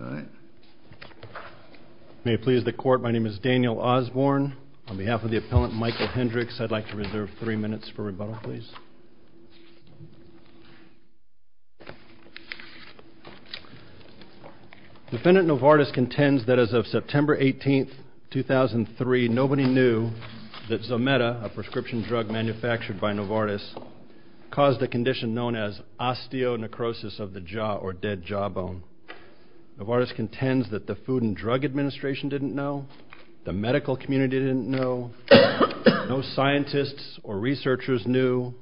All right. May it please the Court, my name is Daniel Osborne. On behalf of the appellant, Michael Hendrix, I'd like to reserve three minutes for rebuttal, please. Defendant Novartis contends that as of September 18, 2003, nobody knew that Zometa, a prescription drug manufactured by Novartis, caused a condition known as osteonecrosis of the jaw or dead jawbone. Novartis contends that the Food and Drug Administration didn't know, the medical community didn't know, no scientists or researchers knew,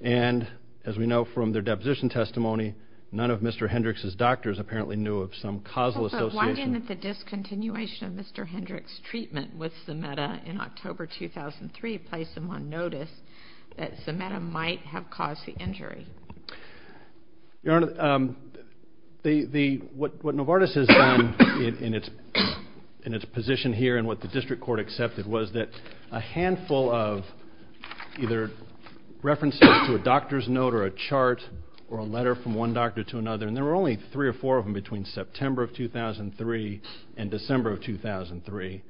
and as we know from their deposition testimony, none of Mr. Hendrix's doctors apparently knew of some causal association. But why didn't the discontinuation of Mr. Hendrix's treatment with Zometa in October 2003 place them on notice that Zometa might have caused the injury? Your Honor, what Novartis has done in its position here and what the district court accepted was that a handful of either references to a doctor's note or a chart or a letter from one doctor to another, and there were only three or four of them between September of 2003 and December of 2003,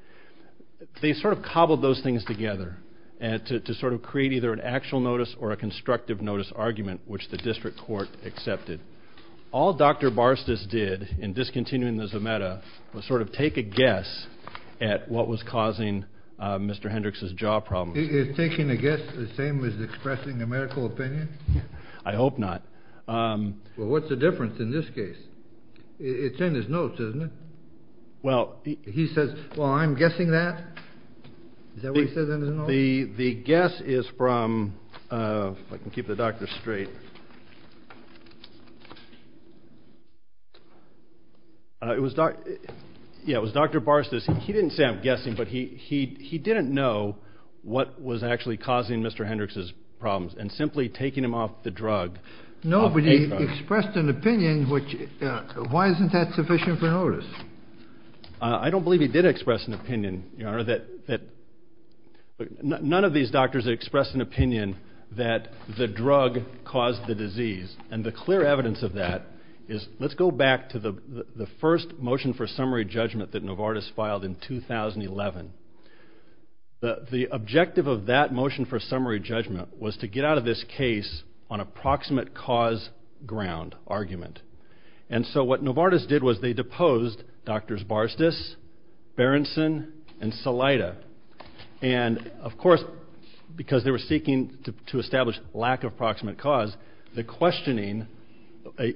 they sort of cobbled those things together to sort of create either an actual notice or a constructive notice argument, which the district court accepted. All Dr. Barstas did in discontinuing the Zometa was sort of take a guess at what was causing Mr. Hendrix's jaw problem. Is taking a guess the same as expressing a medical opinion? I hope not. Well, what's the difference in this case? It's in his notes, isn't it? Well, he says, well, I'm guessing that. Is that what he says in his notes? The guess is from, if I can keep the doctor straight, it was Dr. Barstas, he didn't say I'm guessing, but he didn't know what was actually causing Mr. Hendrix's problems and simply taking him off the drug. Nobody expressed an opinion which, why isn't that sufficient for notice? I don't believe he did express an opinion, Your Honor, that none of these doctors expressed an opinion that the drug caused the disease. And the clear evidence of that is, let's go back to the first motion for summary judgment that Novartis filed in 2011. The objective of that motion for summary judgment was to get out of this case on a proximate cause ground argument. And so what Novartis did was they deposed Drs. Barstas, Berenson, and Salaita. And, of course, because they were seeking to establish lack of proximate cause, the questioning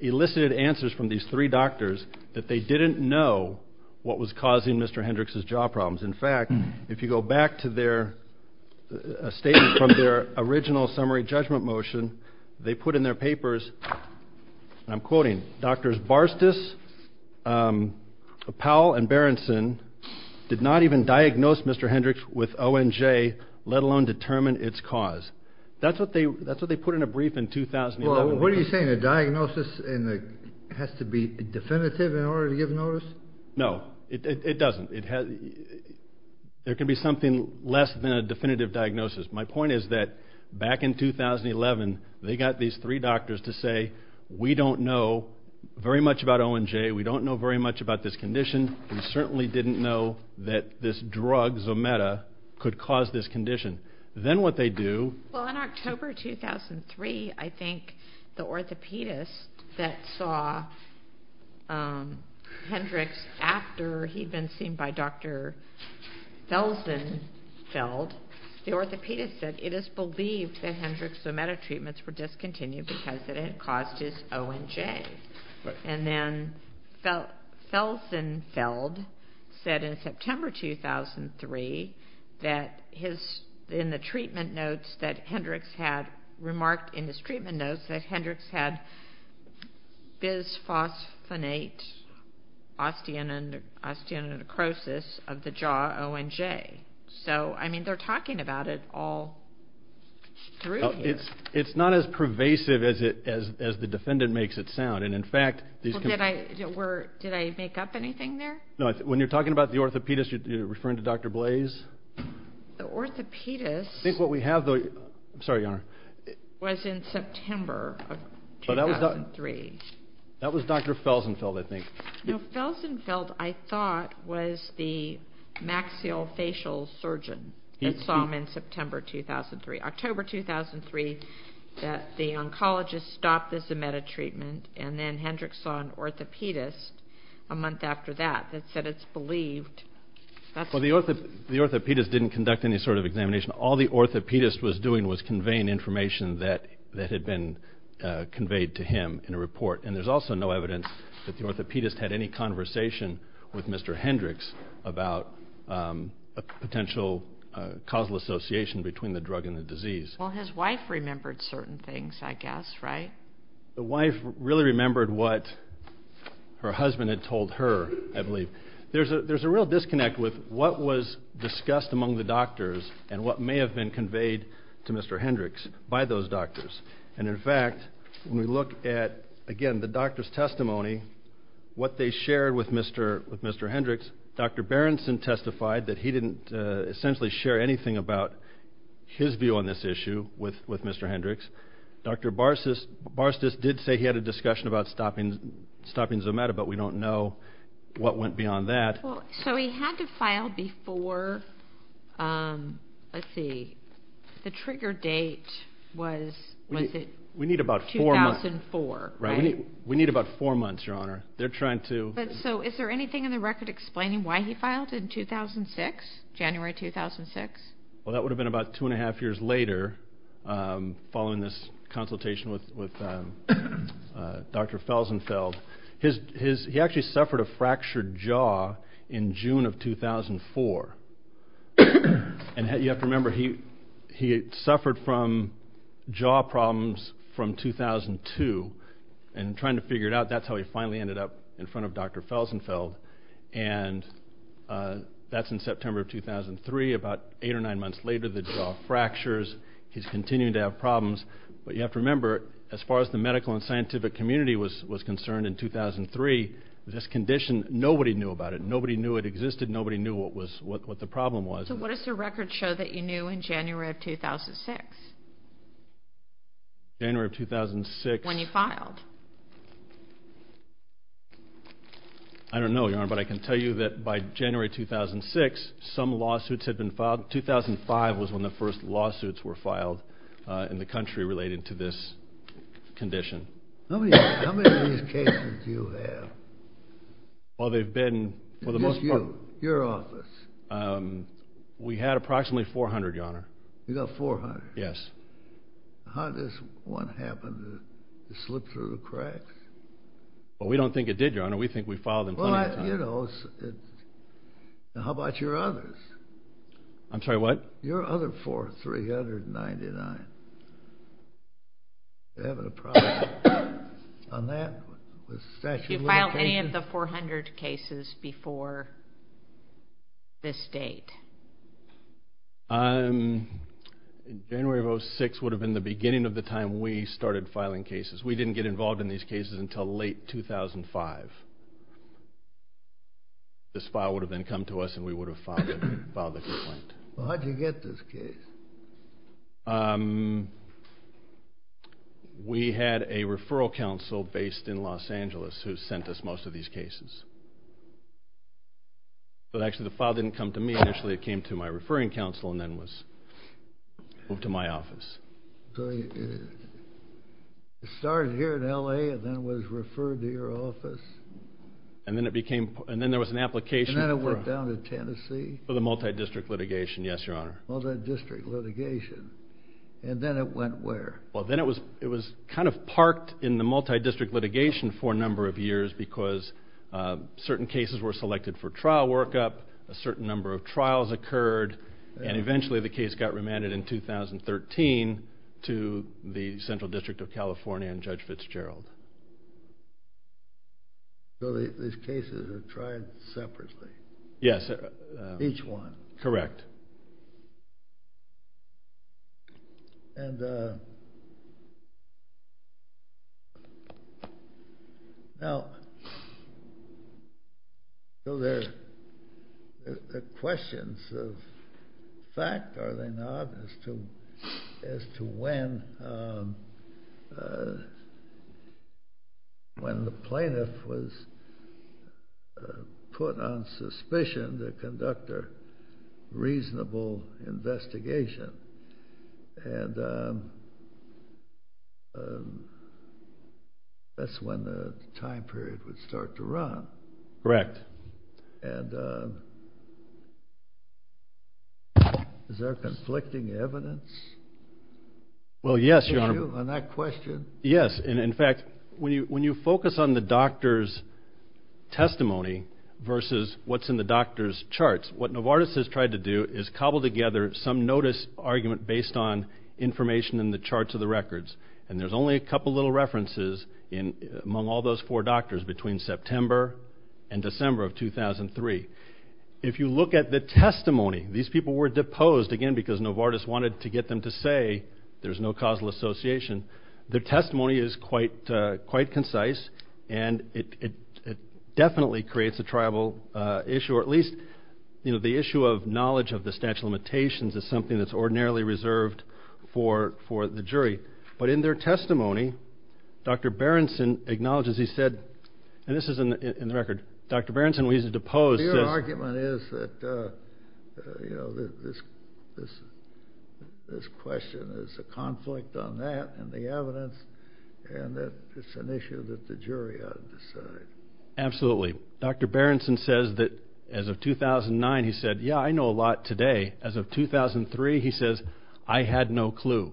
elicited answers from these three doctors that they didn't know what was causing Mr. Hendrix's jaw problems. In fact, if you go back to their statement from their original summary judgment motion, they put in their papers, and I'm quoting, Drs. Barstas, Powell, and Berenson did not even diagnose Mr. Hendrix with ONJ, let alone determine its cause. That's what they put in a brief in 2011. Well, what are you saying? A diagnosis has to be definitive in order to give notice? No, it doesn't. There can be something less than a definitive diagnosis. My point is that back in 2011, they got these three doctors to say, we don't know very much about ONJ, we don't know very much about this condition, we certainly didn't know that this drug, Zometa, could cause this condition. Then what they do... Well, in October 2003, I think the orthopedist that saw Hendrix after he'd been seen by Dr. Felsenfeld, the orthopedist said it is believed that Hendrix's Zometa treatments were discontinued because it had caused his ONJ. And then Felsenfeld said in September 2003 that in the treatment notes that Hendrix had remarked, in his treatment notes that Hendrix had bisphosphonate osteonecrosis of the jaw ONJ. So, I mean, they're talking about it all through here. It's not as pervasive as the defendant makes it sound. And, in fact... Did I make up anything there? When you're talking about the orthopedist, you're referring to Dr. Blaze? The orthopedist... I think what we have, though... I'm sorry, Your Honor. ...was in September of 2003. That was Dr. Felsenfeld, I think. No, Felsenfeld, I thought, was the maxillofacial surgeon that saw him in September 2003. October 2003, the oncologist stopped the Zometa treatment, and then Hendrix saw an orthopedist a month after that that said it's believed... Well, the orthopedist didn't conduct any sort of examination. All the orthopedist was doing was conveying information that had been conveyed to him in a report. And there's also no evidence that the orthopedist had any conversation with Mr. Hendrix about a potential causal association between the drug and the disease. Well, his wife remembered certain things, I guess, right? The wife really remembered what her husband had told her, I believe. There's a real disconnect with what was discussed among the doctors and what may have been conveyed to Mr. Hendrix by those doctors. And, in fact, when we look at, again, the doctor's testimony, what they shared with Mr. Hendrix, Dr. Berenson testified that he didn't essentially share anything about his view on this issue with Mr. Hendrix. Dr. Barstas did say he had a discussion about stopping Zometa, but we don't know what went beyond that. So he had to file before, let's see, the trigger date was, was it 2004? We need about four months, Your Honor. So is there anything in the record explaining why he filed in 2006, January 2006? Well, that would have been about two and a half years later, following this consultation with Dr. Felsenfeld. He actually suffered a fractured jaw in June of 2004. And you have to remember, he suffered from jaw problems from 2002, and trying to figure it out, that's how he finally ended up in front of Dr. Felsenfeld. And that's in September of 2003. About eight or nine months later, the jaw fractures. He's continuing to have problems. But you have to remember, as far as the medical and scientific community was concerned in 2003, this condition, nobody knew about it. Nobody knew it existed. Nobody knew what the problem was. So what does the record show that you knew in January of 2006? January of 2006. When you filed? I don't know, Your Honor, but I can tell you that by January 2006, some lawsuits had been filed. 2005 was when the first lawsuits were filed in the country related to this condition. How many of these cases do you have? Well, they've been for the most part. And just you, your office? We had approximately 400, Your Honor. You got 400? Yes. How does one happen to slip through that? Well, we don't think it did, Your Honor. We think we filed them plenty of times. Well, you know, how about your others? I'm sorry, what? Your other four, 399. You having a problem on that? Did you file any of the 400 cases before this date? January of 2006 would have been the beginning of the time we started filing cases. We didn't get involved in these cases until late 2005. This file would have then come to us and we would have filed the complaint. Well, how did you get this case? We had a referral counsel based in Los Angeles who sent us most of these cases. But actually, the file didn't come to me initially. It came to my referring counsel and then was moved to my office. So it started here in L.A. and then was referred to your office? And then there was an application. And then it went down to Tennessee? For the multidistrict litigation, yes, Your Honor. Multidistrict litigation. And then it went where? Well, then it was kind of parked in the multidistrict litigation for a number of years because certain cases were selected for trial workup, a certain number of trials occurred, and eventually the case got remanded in 2013 to the Central District of California and Judge Fitzgerald. So these cases are tried separately? Yes. Each one? Correct. And now, are there questions of fact, are there not, as to when the plaintiff was put on suspicion to conduct a reasonable investigation? And that's when the time period would start to run. Correct. And is there conflicting evidence? Well, yes, Your Honor. On that question? Yes. And, in fact, when you focus on the doctor's testimony versus what's in the doctor's charts, what Novartis has tried to do is cobble together some notice argument based on information in the charts of the records. And there's only a couple little references among all those four doctors between September and December of 2003. If you look at the testimony, these people were deposed, again, because Novartis wanted to get them to say there's no causal association. Their testimony is quite concise, and it definitely creates a tribal issue, or at least the issue of knowledge of the statute of limitations is something that's ordinarily reserved for the jury. But in their testimony, Dr. Berenson acknowledges he said, and this is in the record, Dr. Berenson was deposed. So your argument is that this question is a conflict on that and the evidence and that it's an issue that the jury ought to decide. Absolutely. Dr. Berenson says that as of 2009, he said, yeah, I know a lot today. As of 2003, he says, I had no clue.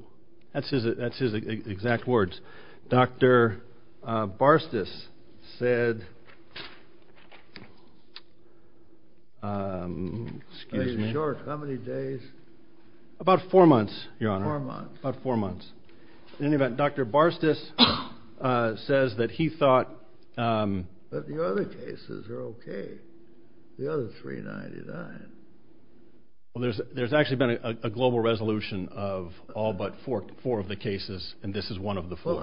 That's his exact words. Dr. Barstis said, excuse me. Are you sure? How many days? About four months, Your Honor. Four months. About four months. In any event, Dr. Barstis says that he thought. But the other cases are okay. The other 399. Well, there's actually been a global resolution of all but four of the cases, and this is one of the four.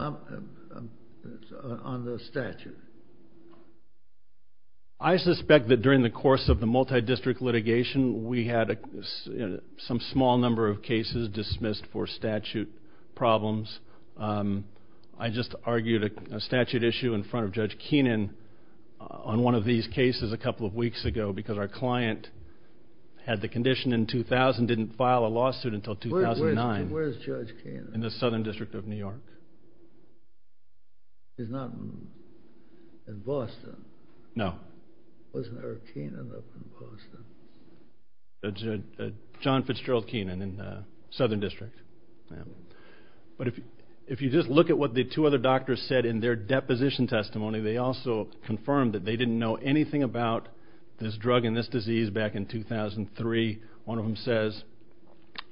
On the statute. I suspect that during the course of the multi-district litigation, we had some small number of cases dismissed for statute problems. I just argued a statute issue in front of Judge Keenan on one of these cases a couple of weeks ago because our client had the condition in 2000, didn't file a lawsuit until 2009. Where's Judge Keenan? In the Southern District of New York. He's not in Boston? No. Wasn't Eric Keenan up in Boston? John Fitzgerald Keenan in the Southern District. But if you just look at what the two other doctors said in their deposition testimony, they also confirmed that they didn't know anything about this drug and this disease back in 2003. One of them says,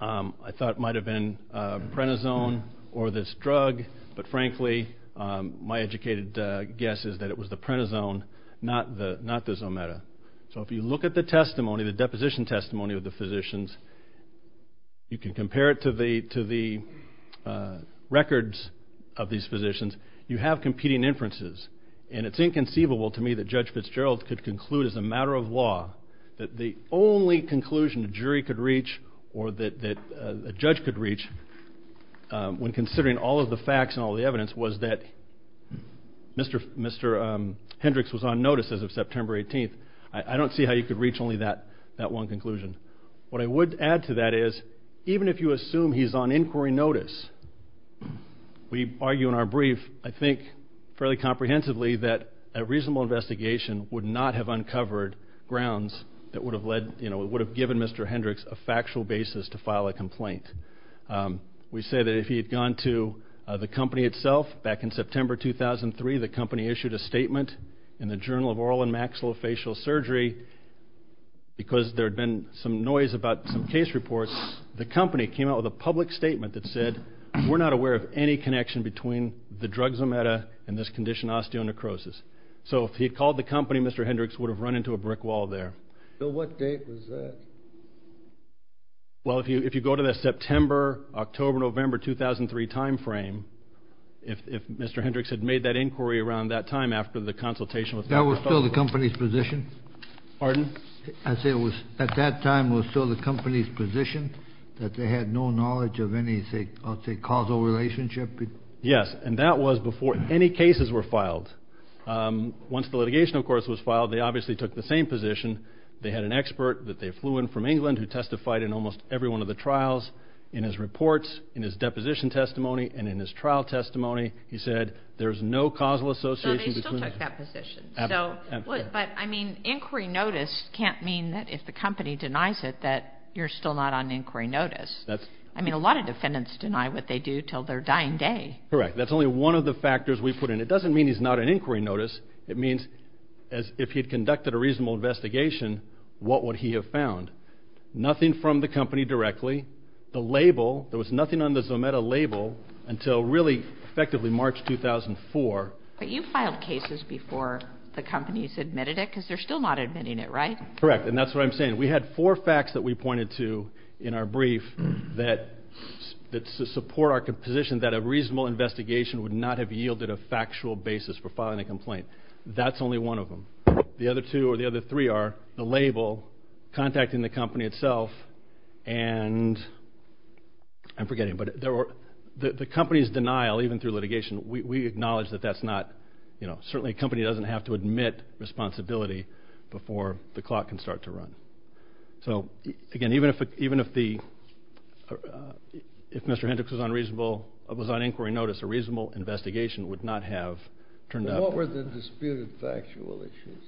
I thought it might have been Prentizone or this drug. But frankly, my educated guess is that it was the Prentizone, not the Zometa. So if you look at the testimony, the deposition testimony of the physicians, you can compare it to the records of these physicians. You have competing inferences. And it's inconceivable to me that Judge Fitzgerald could conclude as a matter of law that the only conclusion a jury could reach or that a judge could reach when considering all of the facts and all of the evidence was that Mr. Hendricks was on notice as of September 18th. I don't see how you could reach only that one conclusion. What I would add to that is even if you assume he's on inquiry notice, we argue in our brief, I think, fairly comprehensively that a reasonable investigation would not have uncovered grounds that would have led, you know, would have given Mr. Hendricks a factual basis to file a complaint. We say that if he had gone to the company itself back in September 2003, the company issued a statement in the Journal of Oral and Maxillofacial Surgery. Because there had been some noise about some case reports, the company came out with a public statement that said, we're not aware of any connection between the drug Zometa and this condition, osteonecrosis. So if he had called the company, Mr. Hendricks would have run into a brick wall there. So what date was that? Well, if you if you go to the September, October, November 2003 time frame, if Mr. Hendricks had made that inquiry around that time after the consultation. That was still the company's position. Pardon? I say it was at that time was still the company's position that they had no knowledge of any, say, I'll say, causal relationship. Yes. And that was before any cases were filed. Once the litigation, of course, was filed, they obviously took the same position. They had an expert that they flew in from England who testified in almost every one of the trials. In his reports, in his deposition testimony and in his trial testimony, he said there is no causal association. So they still took that position. But I mean, inquiry notice can't mean that if the company denies it, that you're still not on inquiry notice. I mean, a lot of defendants deny what they do till their dying day. Correct. That's only one of the factors we put in. It doesn't mean he's not an inquiry notice. It means if he had conducted a reasonable investigation, what would he have found? Nothing from the company directly. The label, there was nothing on the Zometa label until really effectively March 2004. But you filed cases before the companies admitted it because they're still not admitting it, right? Correct. And that's what I'm saying. We had four facts that we pointed to in our brief that support our position that a reasonable investigation would not have yielded a factual basis for filing a complaint. That's only one of them. The other two or the other three are the label, contacting the company itself, and I'm forgetting. But the company's denial, even through litigation, we acknowledge that that's not, you know, certainly a company doesn't have to admit responsibility before the clock can start to run. So, again, even if Mr. Hendricks was on inquiry notice, a reasonable investigation would not have turned up. What were the disputed factual issues?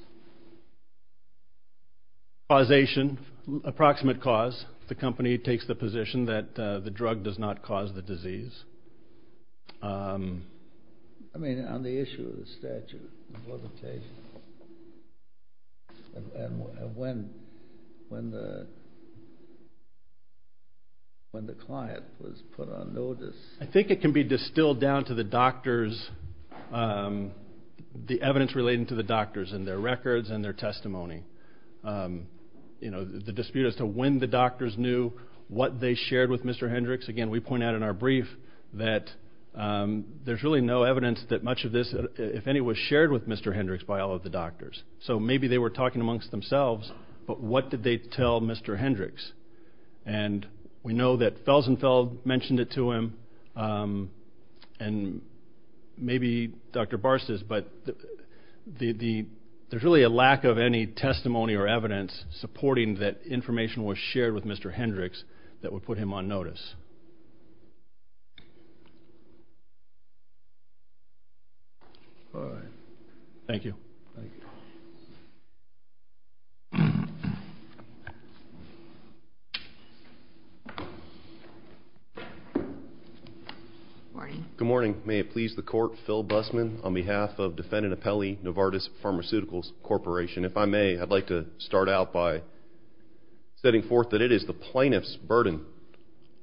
Causation, approximate cause. The company takes the position that the drug does not cause the disease. I mean, on the issue of the statute and when the client was put on notice. I think it can be distilled down to the doctors, the evidence relating to the doctors and their records and their testimony. You know, the dispute as to when the doctors knew what they shared with Mr. Hendricks, again, we point out in our brief that there's really no evidence that much of this, if any, was shared with Mr. Hendricks by all of the doctors. So maybe they were talking amongst themselves, but what did they tell Mr. Hendricks? And we know that Felsenfeld mentioned it to him and maybe Dr. Barses, but there's really a lack of any testimony or evidence supporting that information was shared with Mr. Hendricks that would put him on notice. All right. Thank you. Thank you. Good morning. Good morning. May it please the Court, Phil Bussman on behalf of defendant Apelli Novartis Pharmaceuticals Corporation. If I may, I'd like to start out by setting forth that it is the plaintiff's burden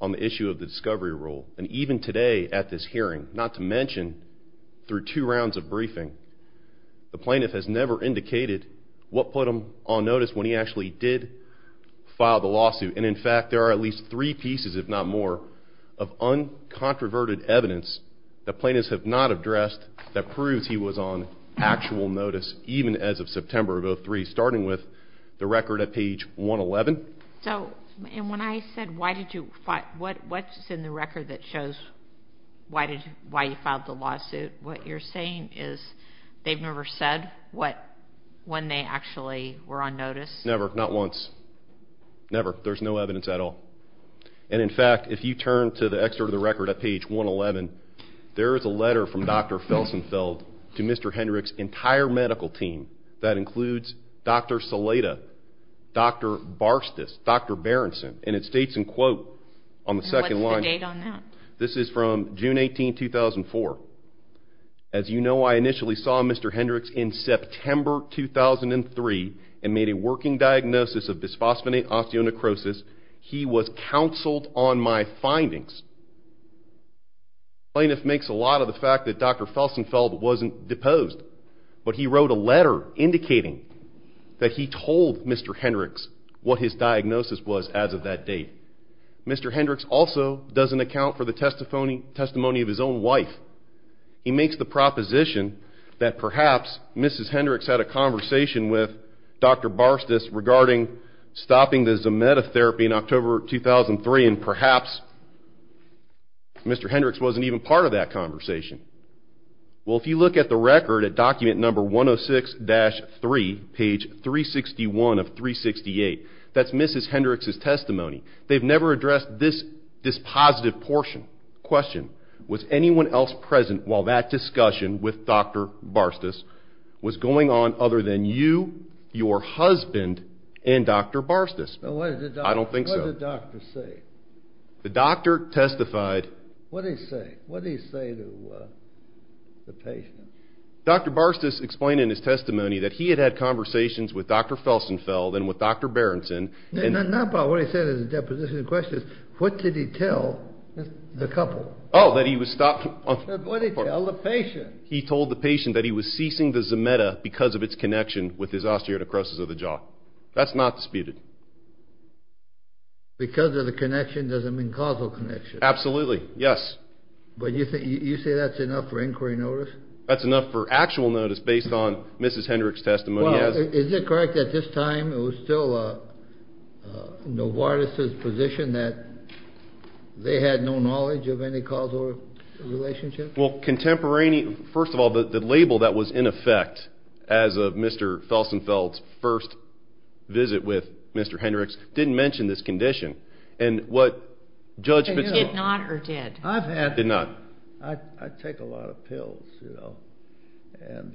on the issue of the discovery rule. And even today at this hearing, not to mention through two rounds of briefing, the plaintiff has never indicated what put him on notice when he actually did file the lawsuit. And, in fact, there are at least three pieces, if not more, of uncontroverted evidence that plaintiffs have not addressed that proves he was on actual notice, even as of September of 2003, starting with the record at page 111. And when I said what's in the record that shows why you filed the lawsuit, what you're saying is they've never said when they actually were on notice? Never. Not once. Never. There's no evidence at all. And, in fact, if you turn to the excerpt of the record at page 111, there is a letter from Dr. Felsenfeld to Mr. Hendricks' entire medical team that includes Dr. Salaita, Dr. Barstas, Dr. Berenson, and it states in quote on the second line. And what's the date on that? This is from June 18, 2004. As you know, I initially saw Mr. Hendricks in September 2003 and made a working diagnosis of bisphosphonate osteonecrosis. He was counseled on my findings. Plaintiff makes a lot of the fact that Dr. Felsenfeld wasn't deposed, but he wrote a letter indicating that he told Mr. Hendricks what his diagnosis was as of that date. Mr. Hendricks also doesn't account for the testimony of his own wife. He makes the proposition that perhaps Mrs. Hendricks had a conversation with Dr. Barstas regarding stopping the Zometa therapy in October 2003, and perhaps Mr. Hendricks wasn't even part of that conversation. Well, if you look at the record at document number 106-3, page 361 of 368, that's Mrs. Hendricks' testimony. They've never addressed this positive portion. Question, was anyone else present while that discussion with Dr. Barstas was going on other than you, your husband, and Dr. Barstas? I don't think so. What did the doctor say? The doctor testified. What did he say? What did he say to the patient? Dr. Barstas explained in his testimony that he had had conversations with Dr. Felsenfeld and with Dr. Berenson. Now, Bob, what he said in his deposition of questions, what did he tell the couple? Oh, that he was stopped. What did he tell the patient? He told the patient that he was ceasing the Zometa because of its connection with his osteoarthrosis of the jaw. That's not disputed. Because of the connection doesn't mean causal connection. Absolutely, yes. But you say that's enough for inquiry notice? That's enough for actual notice based on Mrs. Hendricks' testimony. Is it correct at this time it was still Novartis' position that they had no knowledge of any causal relationship? Well, first of all, the label that was in effect as of Mr. Felsenfeld's first visit with Mr. Hendricks didn't mention this condition. Did not or did? Did not. I take a lot of pills, you know, and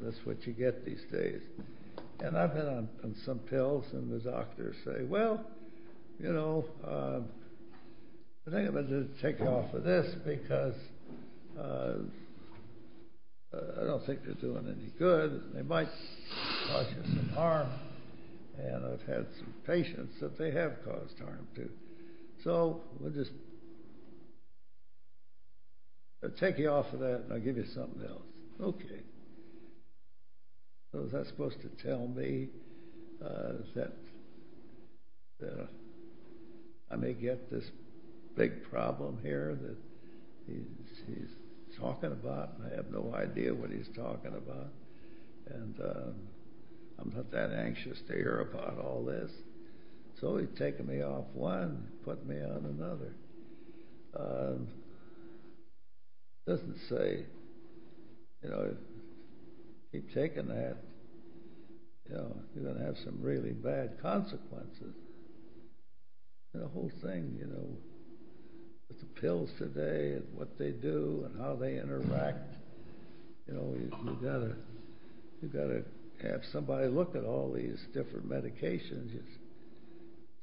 that's what you get these days. And I've been on some pills and the doctors say, well, you know, I think I'm going to take you off of this because I don't think they're doing any good. They might cause you some harm. And I've had some patients that they have caused harm to. So we'll just take you off of that and I'll give you something else. Okay. So is that supposed to tell me that I may get this big problem here that he's talking about and I have no idea what he's talking about? And I'm not that anxious to hear about all this. So he's taking me off one and putting me on another. It doesn't say, you know, if you keep taking that, you know, you're going to have some really bad consequences. The whole thing, you know, with the pills today and what they do and how they interact, you know, you've got to have somebody look at all these different medications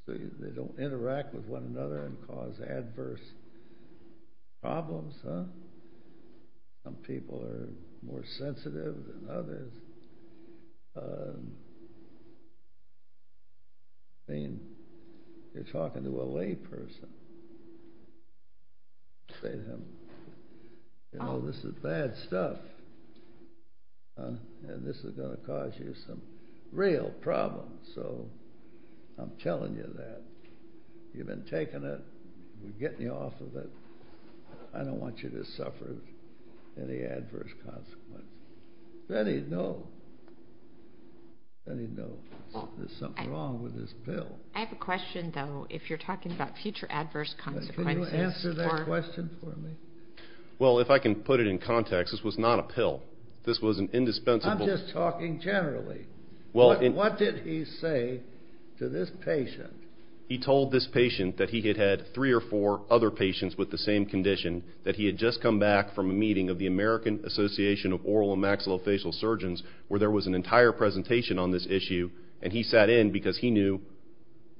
so they don't interact with one another and cause adverse problems, huh? Some people are more sensitive than others. I mean, you're talking to a layperson. Say to him, you know, this is bad stuff and this is going to cause you some real problems. So I'm telling you that. You've been taking it. We're getting you off of it. I don't want you to suffer any adverse consequences. Then he'd know. Then he'd know there's something wrong with this pill. I have a question, though, if you're talking about future adverse consequences. Can you answer that question for me? Well, if I can put it in context, this was not a pill. This was an indispensable. I'm just talking generally. What did he say to this patient? He told this patient that he had had three or four other patients with the same condition, that he had just come back from a meeting of the American Association of Oral and Maxillofacial Surgeons where there was an entire presentation on this issue, and he sat in because he knew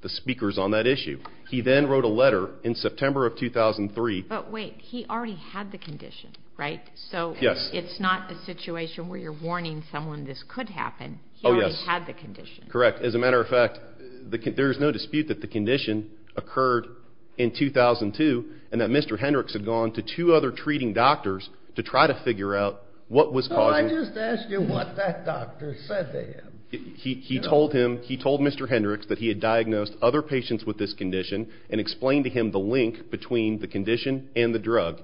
the speakers on that issue. He then wrote a letter in September of 2003. But wait, he already had the condition, right? Yes. So it's not a situation where you're warning someone this could happen. Oh, yes. He already had the condition. Correct. As a matter of fact, there is no dispute that the condition occurred in 2002 and that Mr. Hendricks had gone to two other treating doctors to try to figure out what was causing it. Well, I just asked you what that doctor said to him. He told Mr. Hendricks that he had diagnosed other patients with this condition and explained to him the link between the condition and the drug.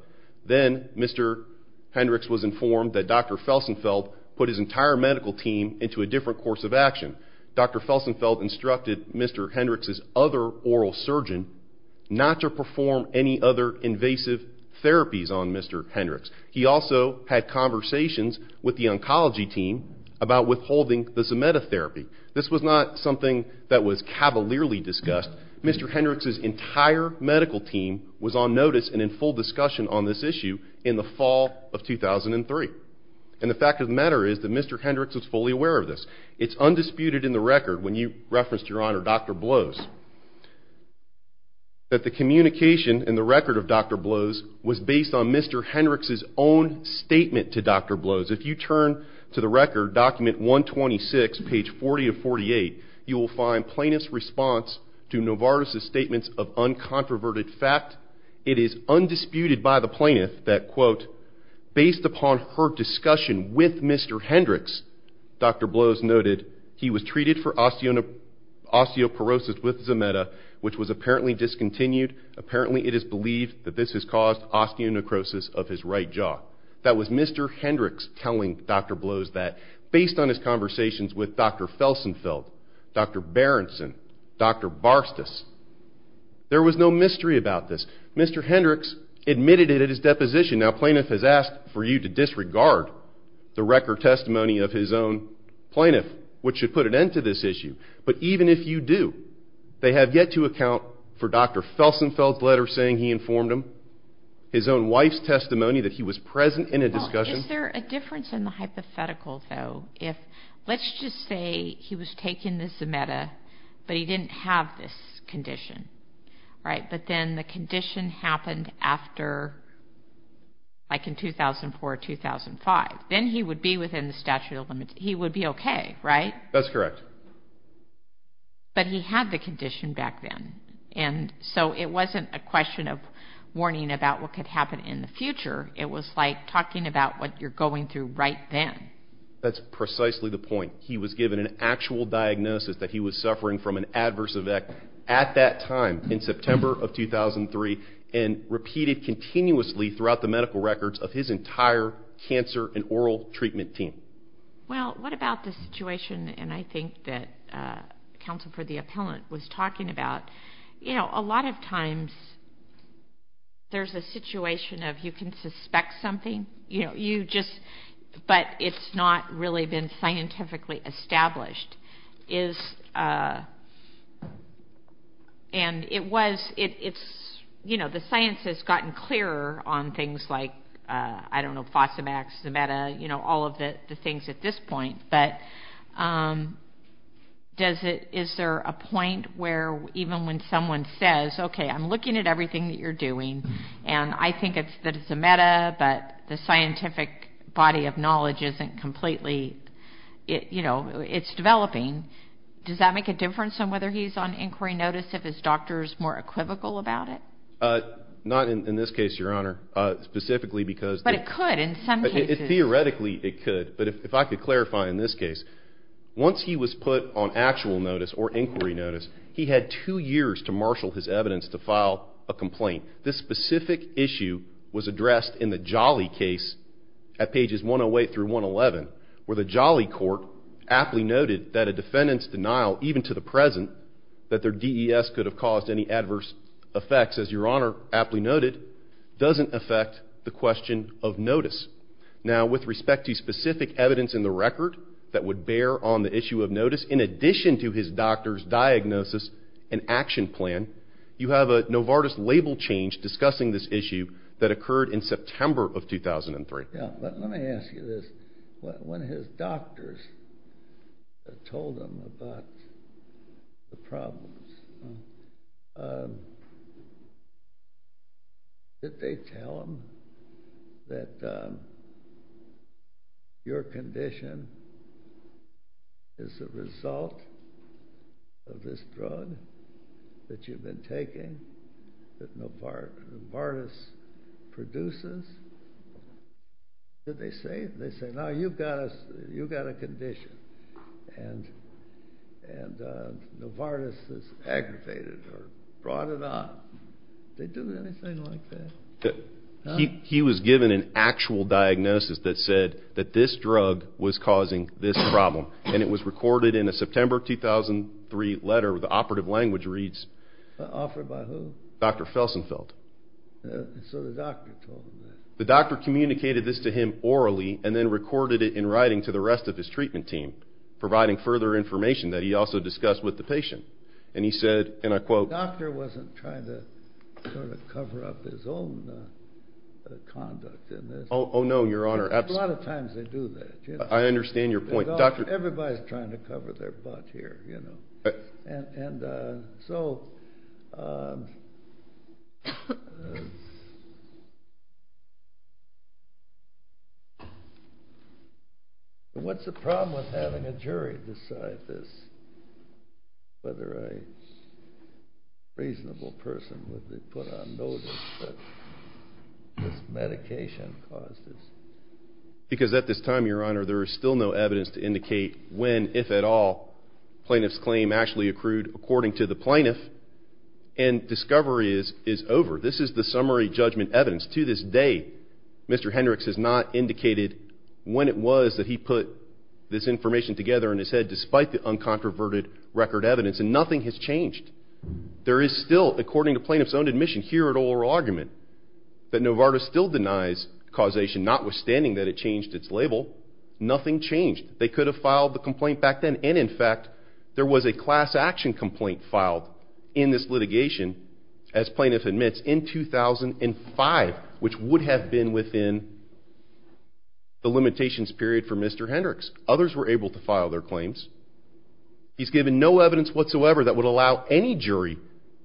Then Mr. Hendricks was informed that Dr. Felsenfeld put his entire medical team into a different course of action. Dr. Felsenfeld instructed Mr. Hendricks' other oral surgeon not to perform any other invasive therapies on Mr. Hendricks. He also had conversations with the oncology team about withholding the Zometa therapy. This was not something that was cavalierly discussed. Mr. Hendricks' entire medical team was on notice and in full discussion on this issue in the fall of 2003. And the fact of the matter is that Mr. Hendricks was fully aware of this. It's undisputed in the record, when you referenced, Your Honor, Dr. Blose, that the communication in the record of Dr. Blose was based on Mr. Hendricks' own statement to Dr. Blose. If you turn to the record, document 126, page 40 of 48, you will find plaintiff's response to Novartis' statements of uncontroverted fact. It is undisputed by the plaintiff that, quote, Based upon her discussion with Mr. Hendricks, Dr. Blose noted, That was Mr. Hendricks telling Dr. Blose that. Based on his conversations with Dr. Felsenfeld, Dr. Berenson, Dr. Barstas, there was no mystery about this. Mr. Hendricks admitted it at his deposition. Now, plaintiff has asked for you to disregard the record testimony of his own plaintiff, which should put an end to this issue. But even if you do, they have yet to account for Dr. Felsenfeld's letter saying he informed him, his own wife's testimony that he was present in a discussion. Well, is there a difference in the hypothetical, though? Let's just say he was taken to Zometa, but he didn't have this condition, right? But then the condition happened after, like in 2004 or 2005. Then he would be within the statute of limits. He would be okay, right? That's correct. But he had the condition back then. And so it wasn't a question of warning about what could happen in the future. It was like talking about what you're going through right then. That's precisely the point. He was given an actual diagnosis that he was suffering from an adverse effect at that time in September of 2003 and repeated continuously throughout the medical records of his entire cancer and oral treatment team. Well, what about the situation, and I think that Counsel for the Appellant was talking about, a lot of times there's a situation of you can suspect something, but it's not really been scientifically established. The science has gotten clearer on things like, I don't know, Fosamax, Zometa, all of the things at this point, but is there a point where even when someone says, okay, I'm looking at everything that you're doing, and I think that it's a meta, but the scientific body of knowledge isn't completely, you know, it's developing, does that make a difference on whether he's on inquiry notice, if his doctor is more equivocal about it? Not in this case, Your Honor. Specifically because the- But it could in some cases. Theoretically, it could. But if I could clarify in this case, once he was put on actual notice or inquiry notice, he had two years to marshal his evidence to file a complaint. This specific issue was addressed in the Jolly case at pages 108 through 111, where the Jolly court aptly noted that a defendant's denial, even to the present, that their DES could have caused any adverse effects, as Your Honor aptly noted, doesn't affect the question of notice. Now, with respect to specific evidence in the record that would bear on the issue of notice, in addition to his doctor's diagnosis and action plan, you have a Novartis label change discussing this issue that occurred in September of 2003. Yeah, but let me ask you this. When his doctors told him about the problems, did they tell him that your condition is a result of this drug that you've been taking, that Novartis produces? Did they say it? They said, no, you've got a condition, and Novartis has aggravated or brought it on. Did they do anything like that? He was given an actual diagnosis that said that this drug was causing this problem, and it was recorded in a September 2003 letter. The operative language reads, Offered by who? Dr. Felsenfeld. So the doctor told him that. The doctor communicated this to him orally and then recorded it in writing to the rest of his treatment team, providing further information that he also discussed with the patient. And he said, and I quote, The doctor wasn't trying to sort of cover up his own conduct in this. Oh, no, Your Honor. A lot of times they do that. I understand your point. Everybody's trying to cover their butt here, you know. And so what's the problem with having a jury decide this, whether a reasonable person would be put on notice that this medication caused this? Because at this time, Your Honor, there is still no evidence to indicate when, if at all, plaintiff's claim actually accrued according to the plaintiff, and discovery is over. This is the summary judgment evidence. To this day, Mr. Hendricks has not indicated when it was that he put this information together in his head, despite the uncontroverted record evidence, and nothing has changed. There is still, according to plaintiff's own admission here at oral argument, that Novartis still denies causation, notwithstanding that it changed its label. Nothing changed. They could have filed the complaint back then, and in fact, there was a class action complaint filed in this litigation, as plaintiff admits, in 2005, which would have been within the limitations period for Mr. Hendricks. Others were able to file their claims. He's given no evidence whatsoever that would allow any jury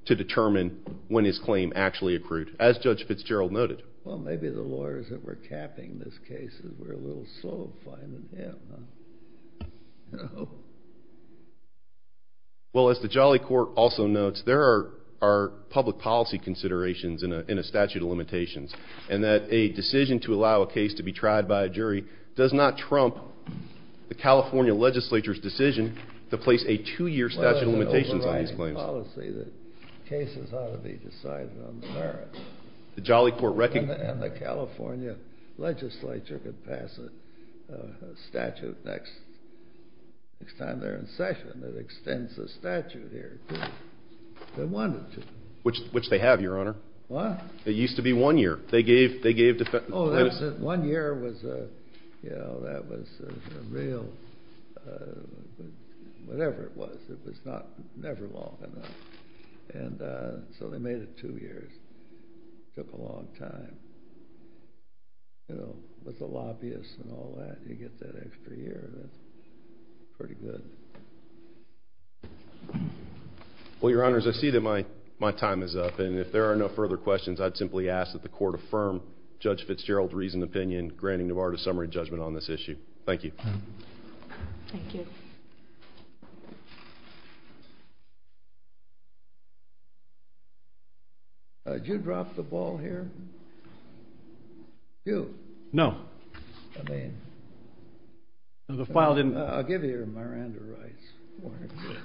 to determine when his claim actually accrued, as Judge Fitzgerald noted. Well, maybe the lawyers that were capping this case were a little soul-finding him. Well, as the Jolly Court also notes, there are public policy considerations in a statute of limitations, and that a decision to allow a case to be tried by a jury does not trump the California legislature's decision to place a two-year statute of limitations on these claims. Well, there's an overriding policy that cases ought to be decided on the merits. And the California legislature could pass a statute next time they're in session that extends the statute here if they wanted to. Which they have, Your Honor. What? It used to be one year. Oh, that was it. One year was a real whatever it was. It was never long enough, and so they made it two years. It took a long time. With the lobbyists and all that, you get that extra year. That's pretty good. Well, Your Honors, I see that my time is up. And if there are no further questions, I'd simply ask that the Court affirm Judge Fitzgerald's reasoned opinion, granting Navarro a summary judgment on this issue. Thank you. Thank you. Did you drop the ball here? You. No. I'll give you your Miranda rights.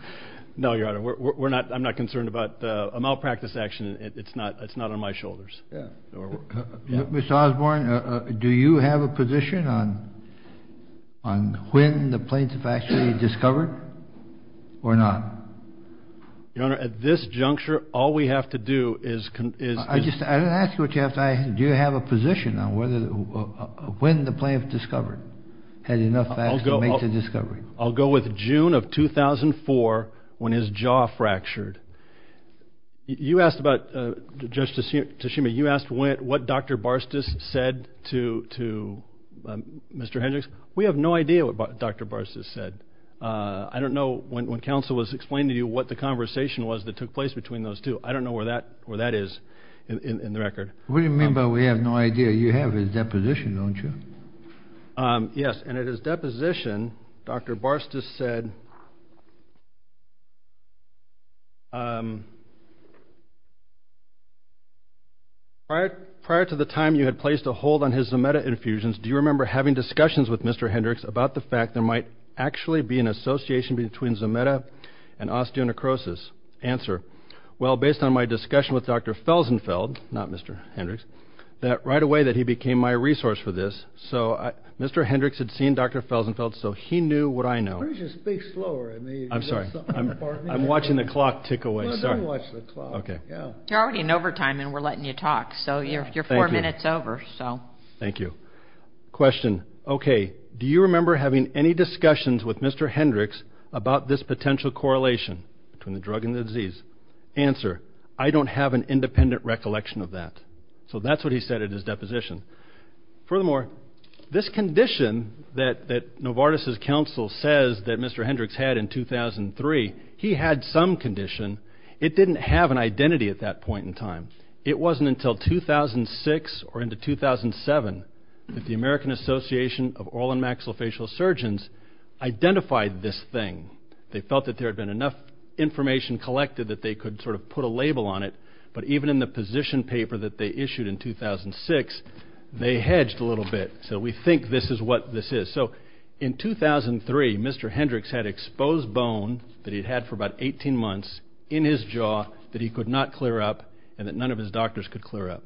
No, Your Honor. I'm not concerned about a malpractice action. It's not on my shoulders. Mr. Osborne, do you have a position on when the plaintiff actually discovered or not? Your Honor, at this juncture, all we have to do is... I didn't ask you what you have to... Do you have a position on when the plaintiff discovered, had enough facts to make the discovery? I'll go with June of 2004 when his jaw fractured. You asked about, Judge Tashima, you asked what Dr. Barstas said to Mr. Hendricks. We have no idea what Dr. Barstas said. I don't know when counsel was explaining to you what the conversation was that took place between those two. I don't know where that is in the record. What do you mean by we have no idea? You have his deposition, don't you? Yes, and at his deposition, Dr. Barstas said... Well, based on my discussion with Dr. Felsenfeld, not Mr. Hendricks, that right away that he became my resource for this. So Mr. Hendricks had seen Dr. Felsenfeld, so he knew what I know. Why don't you speak slower? I'm sorry. I'm watching the clock tick away. No, don't watch the clock. Okay. You're already in overtime and we're letting you talk, so you're four minutes over. Thank you. Question. Okay. Do you remember having any discussions with Mr. Hendricks about this potential correlation between the drug and the disease? Answer. I don't have an independent recollection of that. So that's what he said at his deposition. Furthermore, this condition that Novartis's counsel says that Mr. Hendricks had in 2003, he had some condition. It didn't have an identity at that point in time. It wasn't until 2006 or into 2007 that the American Association of Oral and Maxillofacial Surgeons identified this thing. They felt that there had been enough information collected that they could sort of put a label on it, but even in the position paper that they issued in 2006, they hedged a little bit. So we think this is what this is. So in 2003, Mr. Hendricks had exposed bone that he'd had for about 18 months in his jaw that he could not clear up and that none of his doctors could clear up.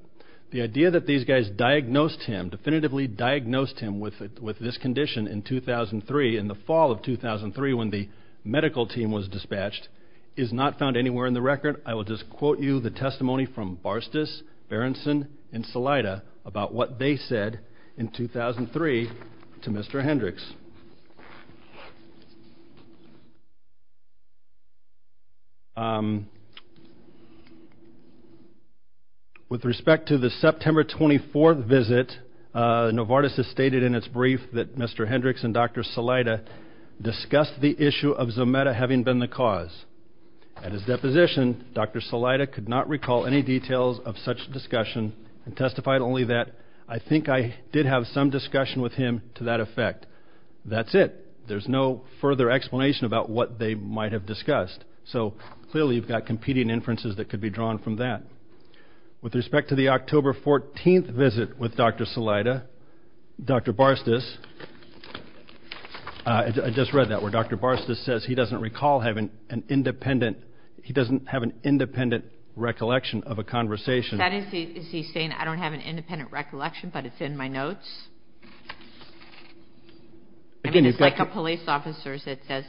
The idea that these guys diagnosed him, definitively diagnosed him with this condition in 2003, in the fall of 2003 when the medical team was dispatched, is not found anywhere in the record. I will just quote you the testimony from Barstas, Berenson, and Salaita about what they said in 2003 to Mr. Hendricks. With respect to the September 24th visit, Novartis has stated in its brief that Mr. Hendricks and Dr. Salaita discussed the issue of Zometa having been the cause. At his deposition, Dr. Salaita could not recall any details of such discussion and testified only that, I think I did have some discussion with him to that effect. That's it. There's no further explanation about what they might have discussed. So clearly you've got competing inferences that could be drawn from that. With respect to the October 14th visit with Dr. Salaita, Dr. Barstas, I just read that where Dr. Barstas says he doesn't recall having an independent, he doesn't have an independent recollection of a conversation. Is he saying I don't have an independent recollection but it's in my notes? I mean it's like a police officer's that says,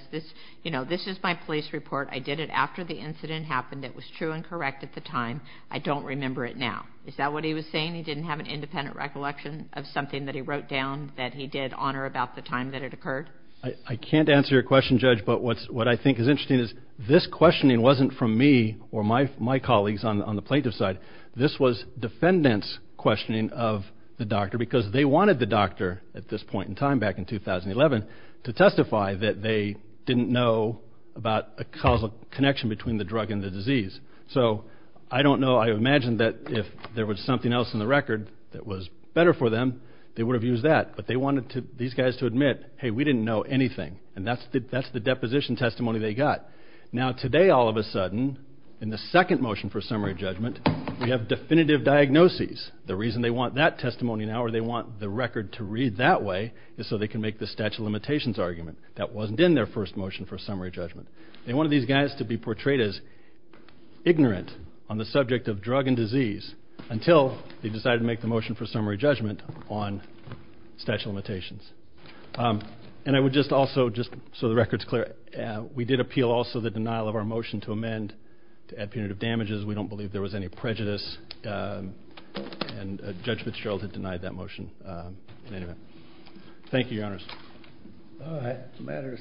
you know, this is my police report. I did it after the incident happened. It was true and correct at the time. I don't remember it now. Is that what he was saying? He didn't have an independent recollection of something that he wrote down that he did honor about the time that it occurred? I can't answer your question, Judge, but what I think is interesting is this questioning wasn't from me or my colleagues on the plaintiff's side. This was defendants' questioning of the doctor because they wanted the doctor at this point in time back in 2011 to testify that they didn't know about a causal connection between the drug and the disease. So I don't know, I imagine that if there was something else in the record that was better for them, they would have used that but they wanted these guys to admit, hey, we didn't know anything and that's the deposition testimony they got. Now today all of a sudden in the second motion for summary judgment we have definitive diagnoses. The reason they want that testimony now or they want the record to read that way is so they can make the statute of limitations argument. That wasn't in their first motion for summary judgment. They wanted these guys to be portrayed as ignorant on the subject of drug and disease until they decided to make the motion for summary judgment on statute of limitations. And I would just also, just so the record's clear, we did appeal also the denial of our motion to amend to add punitive damages. We don't believe there was any prejudice and Judge Fitzgerald had denied that motion. Thank you, Your Honors.